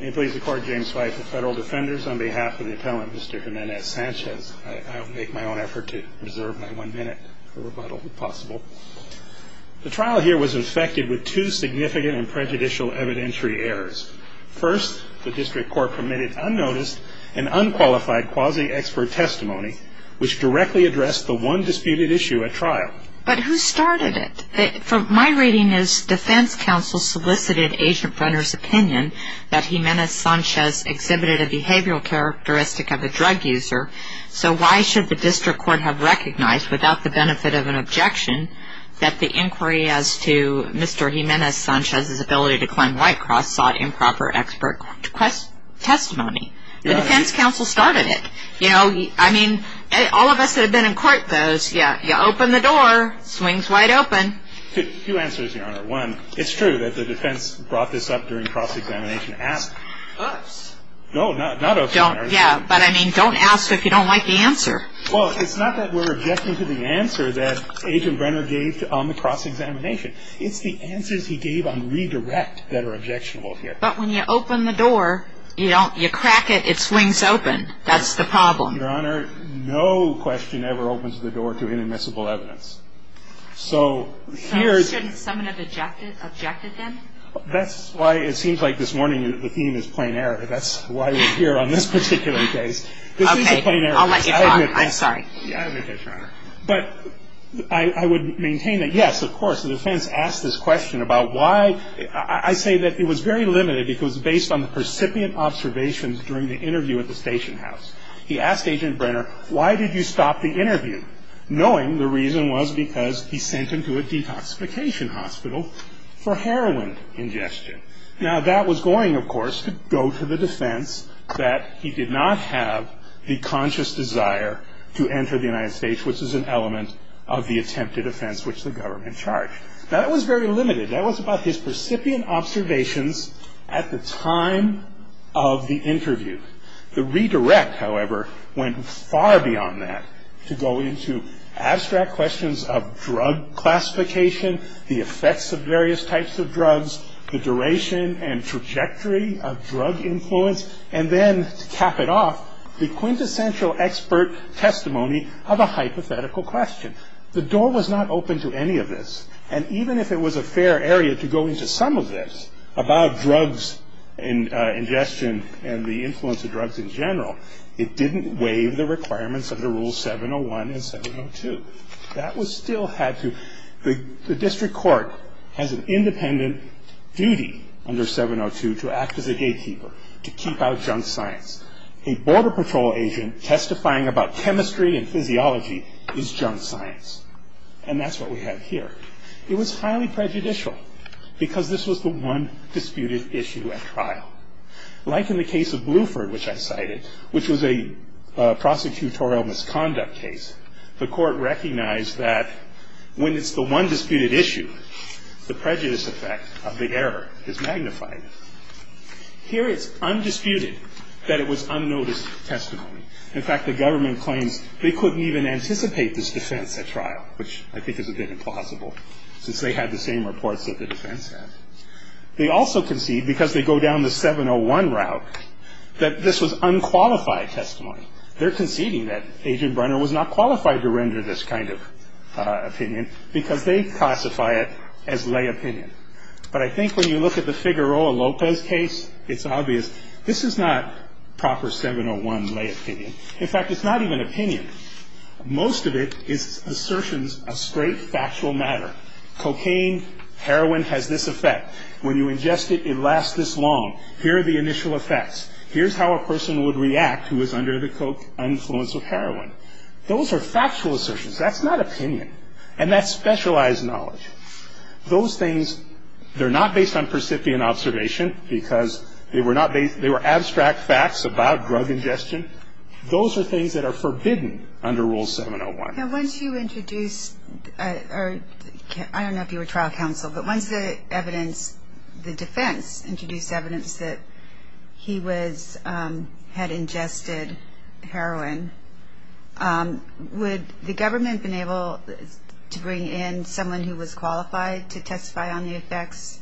May it please the Court, James White, the Federal Defenders, on behalf of the Appellant, Mr. Jimenez-Sanchez, I will make my own effort to reserve my one minute for rebuttal, if possible. The trial here was infected with two significant and prejudicial evidentiary errors. First, the District Court permitted unnoticed and unqualified quasi-expert testimony, which directly addressed the one disputed issue at trial. But who started it? My reading is Defense Counsel solicited Agent Brenner's opinion that Jimenez-Sanchez exhibited a behavioral characteristic of a drug user. So why should the District Court have recognized, without the benefit of an objection, that the inquiry as to Mr. Jimenez-Sanchez's ability to claim White Cross sought improper expert testimony? The Defense Counsel started it. You know, I mean, all of us that have been in court knows, yeah, you open the door, swings wide open. Two answers, Your Honor. One, it's true that the Defense brought this up during cross-examination. Ask. Us? No, not us. Yeah, but I mean, don't ask if you don't like the answer. Well, it's not that we're objecting to the answer that Agent Brenner gave on the cross-examination. It's the answers he gave on redirect that are objectionable here. But when you open the door, you crack it, it swings open. That's the problem. Your Honor, no question ever opens the door to inadmissible evidence. Shouldn't someone have objected then? That's why it seems like this morning the theme is plain error. That's why we're here on this particular case. Okay. I'll let you talk. I'm sorry. I admit this, Your Honor. But I would maintain that, yes, of course, the defense asked this question about why. I say that it was very limited because based on the percipient observations during the interview at the station house, he asked Agent Brenner, why did you stop the interview, knowing the reason was because he sent him to a detoxification hospital for heroin ingestion. Now, that was going, of course, to go to the defense that he did not have the conscious desire to enter the United States, which is an element of the attempted offense which the government charged. Now, that was very limited. That was about his percipient observations at the time of the interview. The redirect, however, went far beyond that to go into abstract questions of drug classification, the effects of various types of drugs, the duration and trajectory of drug influence, and then to cap it off, the quintessential expert testimony of a hypothetical question. The door was not open to any of this. And even if it was a fair area to go into some of this about drugs ingestion and the influence of drugs in general, it didn't waive the requirements under Rule 701 and 702. That was still had to – the district court has an independent duty under 702 to act as a gatekeeper, to keep out junk science. A border patrol agent testifying about chemistry and physiology is junk science. And that's what we have here. It was highly prejudicial because this was the one disputed issue at trial. Like in the case of Bluford, which I cited, which was a prosecutorial misconduct case, the court recognized that when it's the one disputed issue, the prejudice effect of the error is magnified. Here it's undisputed that it was unnoticed testimony. In fact, the government claims they couldn't even anticipate this defense at trial, which I think is a bit implausible since they had the same reports that the defense had. They also concede, because they go down the 701 route, that this was unqualified testimony. They're conceding that Agent Brenner was not qualified to render this kind of opinion because they classify it as lay opinion. But I think when you look at the Figueroa Lopez case, it's obvious this is not proper 701 lay opinion. In fact, it's not even opinion. Most of it is assertions of straight factual matter. Cocaine, heroin has this effect. When you ingest it, it lasts this long. Here are the initial effects. Here's how a person would react who was under the influence of heroin. Those are factual assertions. That's not opinion. And that's specialized knowledge. Those things, they're not based on percipient observation because they were abstract facts about drug ingestion. Those are things that are forbidden under Rule 701. Now, once you introduce, I don't know if you were trial counsel, but once the defense introduced evidence that he had ingested heroin, would the government have been able to bring in someone who was qualified to testify on the effects?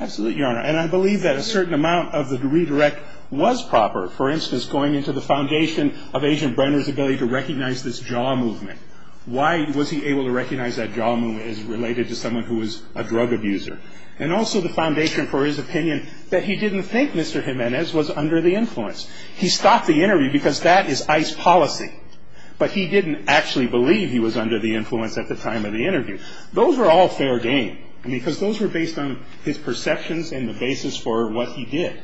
Absolutely, Your Honor. And I believe that a certain amount of the redirect was proper. For instance, going into the foundation of Agent Brenner's ability to recognize this jaw movement. Why was he able to recognize that jaw movement as related to someone who was a drug abuser? And also the foundation for his opinion that he didn't think Mr. Jimenez was under the influence. He stopped the interview because that is ICE policy. But he didn't actually believe he was under the influence at the time of the interview. Those were all fair game because those were based on his perceptions and the basis for what he did.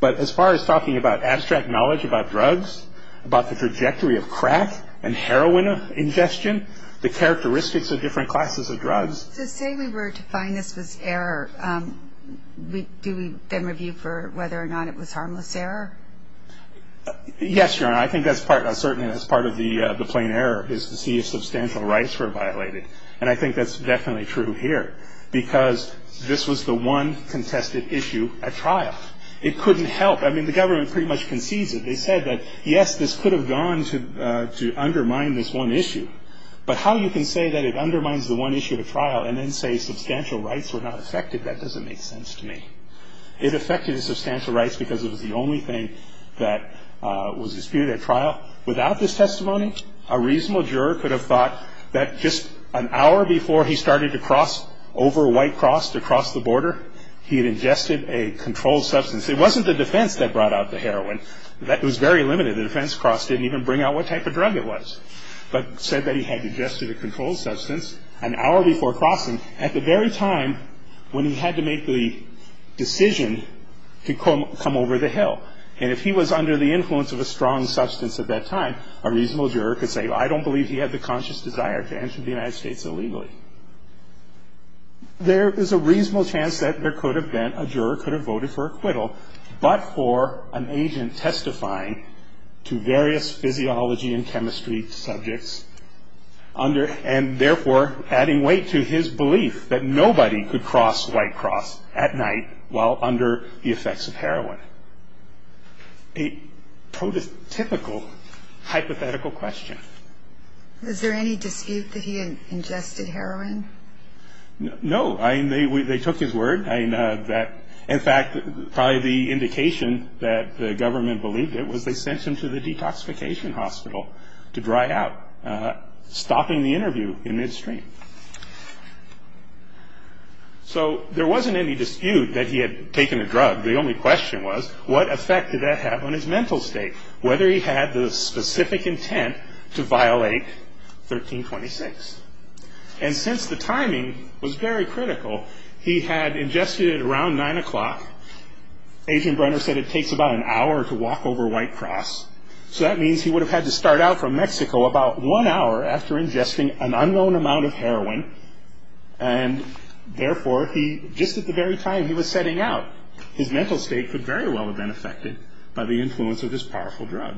But as far as talking about abstract knowledge about drugs, about the trajectory of crack and heroin ingestion, the characteristics of different classes of drugs. To say we were to find this was error, do we then review for whether or not it was harmless error? Yes, Your Honor. I think that's certainly part of the plain error is to see if substantial rights were violated. And I think that's definitely true here because this was the one contested issue at trial. It couldn't help. I mean, the government pretty much concedes it. They said that, yes, this could have gone to undermine this one issue. But how you can say that it undermines the one issue at trial and then say substantial rights were not affected, that doesn't make sense to me. It affected the substantial rights because it was the only thing that was disputed at trial. Without this testimony, a reasonable juror could have thought that just an hour before he started to cross over a white cross to cross the border, he had ingested a controlled substance. It wasn't the defense that brought out the heroin. It was very limited. The defense cross didn't even bring out what type of drug it was, but said that he had ingested a controlled substance an hour before crossing at the very time when he had to make the decision to come over the hill. And if he was under the influence of a strong substance at that time, a reasonable juror could say, well, I don't believe he had the conscious desire to enter the United States illegally. There is a reasonable chance that there could have been, a juror could have voted for acquittal, but for an agent testifying to various physiology and chemistry subjects, and therefore adding weight to his belief that nobody could cross White Cross at night while under the effects of heroin. A prototypical hypothetical question. Is there any dispute that he had ingested heroin? No. They took his word. In fact, probably the indication that the government believed it was they sent him to the detoxification hospital to dry out, stopping the interview in midstream. So there wasn't any dispute that he had taken a drug. The only question was, what effect did that have on his mental state? Whether he had the specific intent to violate 1326. And since the timing was very critical, he had ingested it around 9 o'clock. Agent Brenner said it takes about an hour to walk over White Cross. So that means he would have had to start out from Mexico about one hour after ingesting an unknown amount of heroin. And therefore, just at the very time he was setting out, his mental state could very well have been affected by the influence of this powerful drug.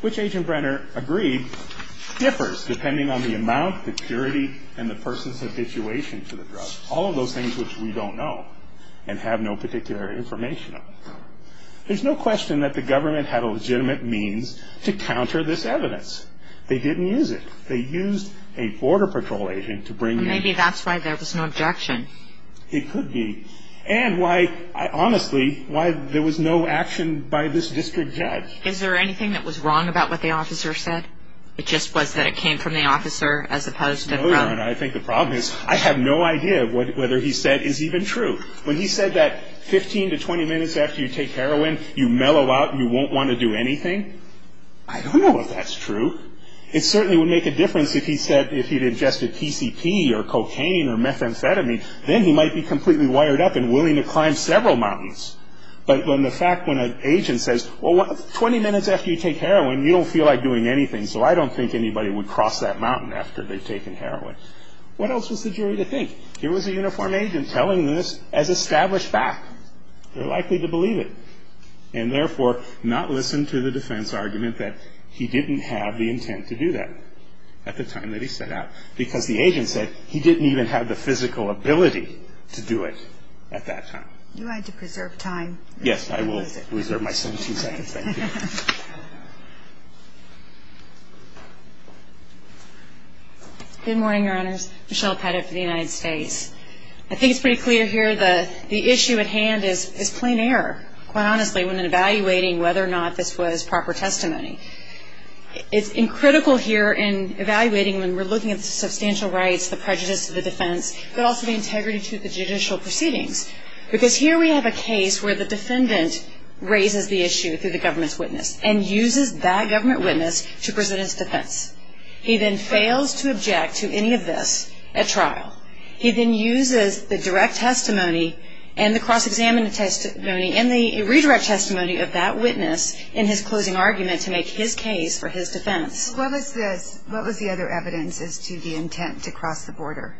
Which, Agent Brenner agreed, differs depending on the amount, the purity, and the person's habituation to the drug. All of those things which we don't know and have no particular information on. There's no question that the government had a legitimate means to counter this evidence. They didn't use it. They used a border patrol agent to bring the... Maybe that's why there was no objection. It could be. And why, honestly, why there was no action by this district judge. Is there anything that was wrong about what the officer said? It just was that it came from the officer as opposed to... I think the problem is I have no idea whether he said is even true. When he said that 15 to 20 minutes after you take heroin, you mellow out and you won't want to do anything, I don't know if that's true. It certainly would make a difference if he said, if he'd ingested PCP or cocaine or methamphetamine, then he might be completely wired up and willing to climb several mountains. But when the fact, when an agent says, well, 20 minutes after you take heroin, you don't feel like doing anything, so I don't think anybody would cross that mountain after they've taken heroin. What else was the jury to think? Here was a uniformed agent telling this as established fact. They're likely to believe it. And, therefore, not listen to the defense argument that he didn't have the intent to do that at the time that he set out, because the agent said he didn't even have the physical ability to do it at that time. You had to preserve time. Yes, I will reserve my 17 seconds. Thank you. Good morning, Your Honors. Michelle Pettit for the United States. I think it's pretty clear here that the issue at hand is plain error, quite honestly, when evaluating whether or not this was proper testimony. It's critical here in evaluating when we're looking at substantial rights, the prejudice of the defense, but also the integrity to the judicial proceedings, because here we have a case where the defendant raises the issue through the government's witness and uses that government witness to present its defense. He then fails to object to any of this at trial. He then uses the direct testimony and the cross-examined testimony and the redirect testimony of that witness in his closing argument to make his case for his defense. What was the other evidence as to the intent to cross the border?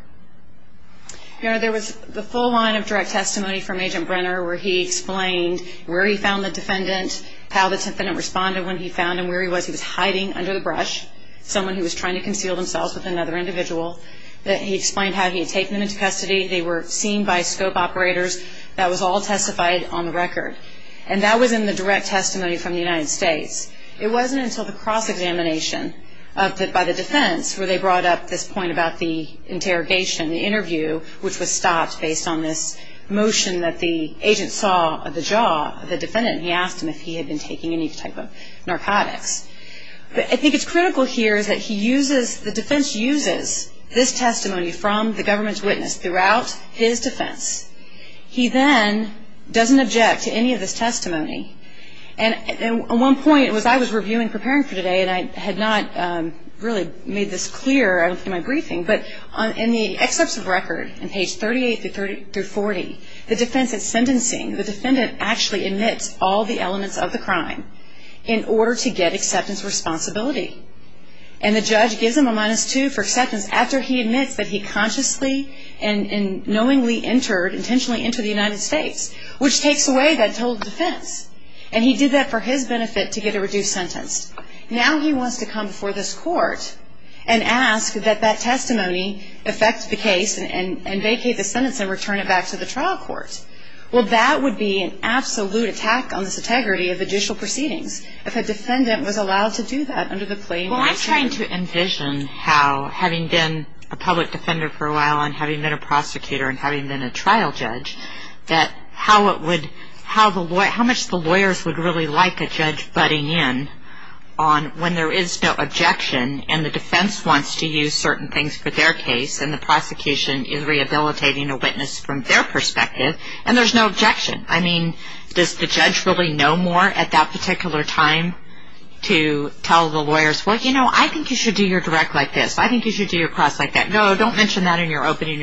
Your Honor, there was the full line of direct testimony from Agent Brenner, where he explained where he found the defendant, how the defendant responded when he found him, where he was. He was hiding under the brush, someone who was trying to conceal themselves with another individual. He explained how he had taken them into custody. They were seen by scope operators. That was all testified on the record. And that was in the direct testimony from the United States. It wasn't until the cross-examination by the defense, where they brought up this point about the interrogation, the interview, which was stopped based on this motion that the agent saw of the jaw of the defendant and he asked him if he had been taking any type of narcotics. I think it's critical here that the defense uses this testimony from the government's witness throughout his defense. He then doesn't object to any of this testimony. And one point was I was reviewing, preparing for today, and I had not really made this clear in my briefing, but in the excerpts of record on page 38 through 40, the defense is sentencing. The defendant actually admits all the elements of the crime in order to get acceptance responsibility. And the judge gives him a minus two for acceptance after he admits that he consciously and knowingly entered, intentionally entered the United States, which takes away that total defense. And he did that for his benefit to get a reduced sentence. Now he wants to come before this court and ask that that testimony affect the case and vacate the sentence and return it back to the trial court. Well, that would be an absolute attack on this integrity of judicial proceedings if a defendant was allowed to do that under the claim. Well, I'm trying to envision how having been a public defender for a while and having been a prosecutor and having been a trial judge, that how much the lawyers would really like a judge butting in on when there is no objection and the defense wants to use certain things for their case and the prosecution is rehabilitating a witness from their perspective and there's no objection. I mean, does the judge really know more at that particular time to tell the lawyers, well, you know, I think you should do your direct like this. I think you should do your cross like that. No, don't mention that in your opening.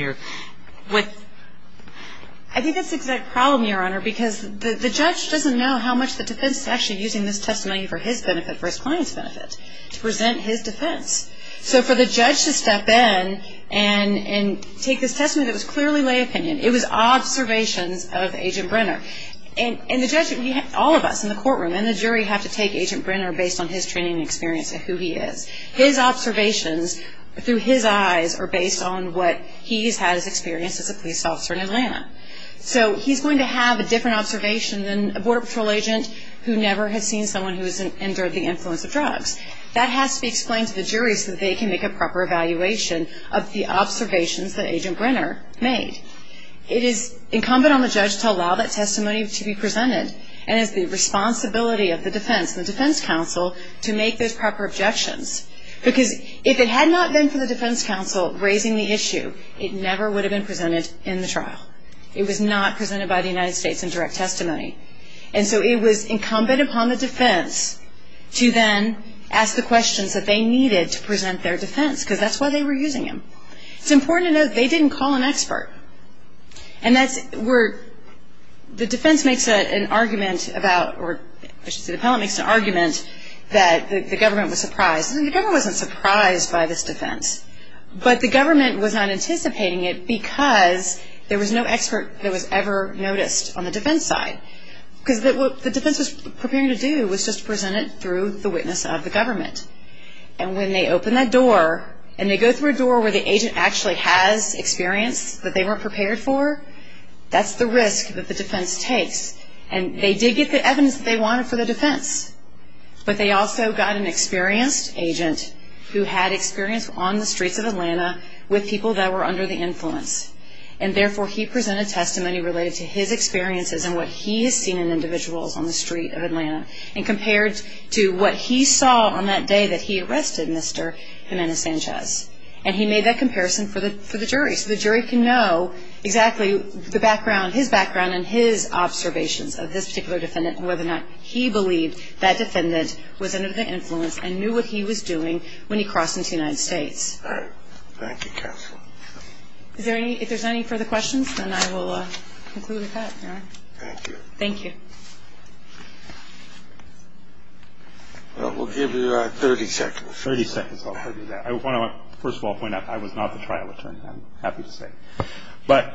I think that's the exact problem, Your Honor, because the judge doesn't know how much the defense is actually using this testimony for his benefit, for his client's benefit, to present his defense. So for the judge to step in and take this testimony that was clearly lay opinion, it was observations of Agent Brenner. And the judge, all of us in the courtroom and the jury, have to take Agent Brenner based on his training and experience of who he is. His observations through his eyes are based on what he has experienced as a police officer in Atlanta. So he's going to have a different observation than a Border Patrol agent who never has seen someone who has endured the influence of drugs. That has to be explained to the jury so that they can make a proper evaluation of the observations that Agent Brenner made. It is incumbent on the judge to allow that testimony to be presented and it's the responsibility of the defense, the defense counsel, to make those proper objections. Because if it had not been for the defense counsel raising the issue, it never would have been presented in the trial. It was not presented by the United States in direct testimony. And so it was incumbent upon the defense to then ask the questions that they needed to present their defense, because that's why they were using him. It's important to note they didn't call an expert. And that's where the defense makes an argument about, or I should say the appellant makes an argument that the government was surprised. The government wasn't surprised by this defense, but the government was not anticipating it because there was no expert that was ever noticed on the defense side. Because what the defense was preparing to do was just present it through the witness of the government. And when they open that door and they go through a door where the agent actually has experience that they weren't prepared for, that's the risk that the defense takes. And they did get the evidence that they wanted for the defense, but they also got an experienced agent who had experience on the streets of Atlanta with people that were under the influence. And therefore, he presented testimony related to his experiences and what he has seen in individuals on the street of Atlanta and compared to what he saw on that day that he arrested Mr. Jimenez-Sanchez. And he made that comparison for the jury. So the jury can know exactly the background, his background, and his observations of this particular defendant and whether or not he believed that defendant was under the influence and knew what he was doing when he crossed into the United States. All right. Thank you, counsel. Is there any – if there's any further questions, then I will conclude with that, Your Honor. Thank you. Thank you. Well, we'll give you 30 seconds. 30 seconds. I want to, first of all, point out I was not the trial attorney. I'm happy to say. But,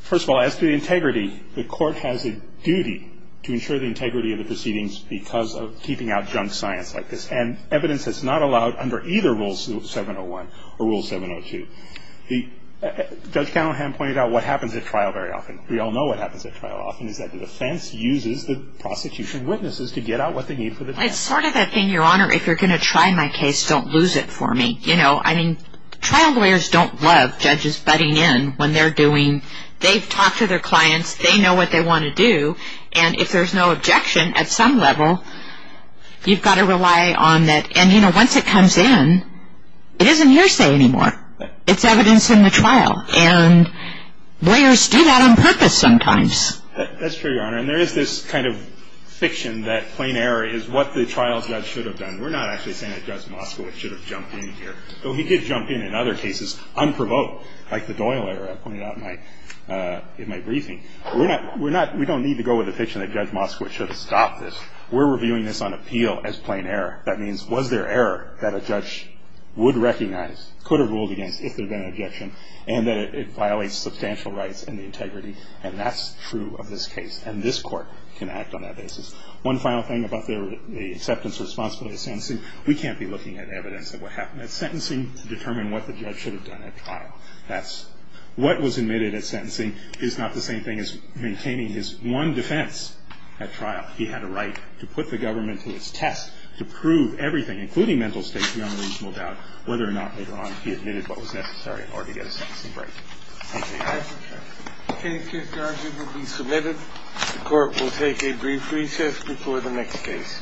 first of all, as to the integrity, the court has a duty to ensure the integrity of the proceedings because of keeping out junk science like this. And evidence is not allowed under either Rule 701 or Rule 702. Judge Callahan pointed out what happens at trial very often. We all know what happens at trial often, is that the defense uses the prostitution witnesses to get out what they need for the defense. Well, it's sort of a thing, Your Honor, if you're going to try my case, don't lose it for me. You know, I mean, trial lawyers don't love judges butting in when they're doing – they've talked to their clients, they know what they want to do, and if there's no objection at some level, you've got to rely on that. And, you know, once it comes in, it isn't hearsay anymore. It's evidence in the trial. And lawyers do that on purpose sometimes. That's true, Your Honor. And there is this kind of fiction that plain error is what the trial judge should have done. We're not actually saying that Judge Moskowitz should have jumped in here, though he did jump in in other cases, unprovoked, like the Doyle error I pointed out in my briefing. We're not – we don't need to go with the fiction that Judge Moskowitz should have stopped this. We're reviewing this on appeal as plain error. That means was there error that a judge would recognize, could have ruled against if there had been an objection, and that it violates substantial rights and the integrity, and that's true of this case. And this Court can act on that basis. One final thing about the acceptance responsibility of sentencing. We can't be looking at evidence of what happened at sentencing to determine what the judge should have done at trial. That's – what was admitted at sentencing is not the same thing as maintaining his one defense at trial. He had a right to put the government to its test, to prove everything, including mental states beyond the reasonable doubt, whether or not later on he admitted what was necessary in order to get a sentencing break. Thank you. Okay, case charges will be submitted. The Court will take a brief recess before the next case.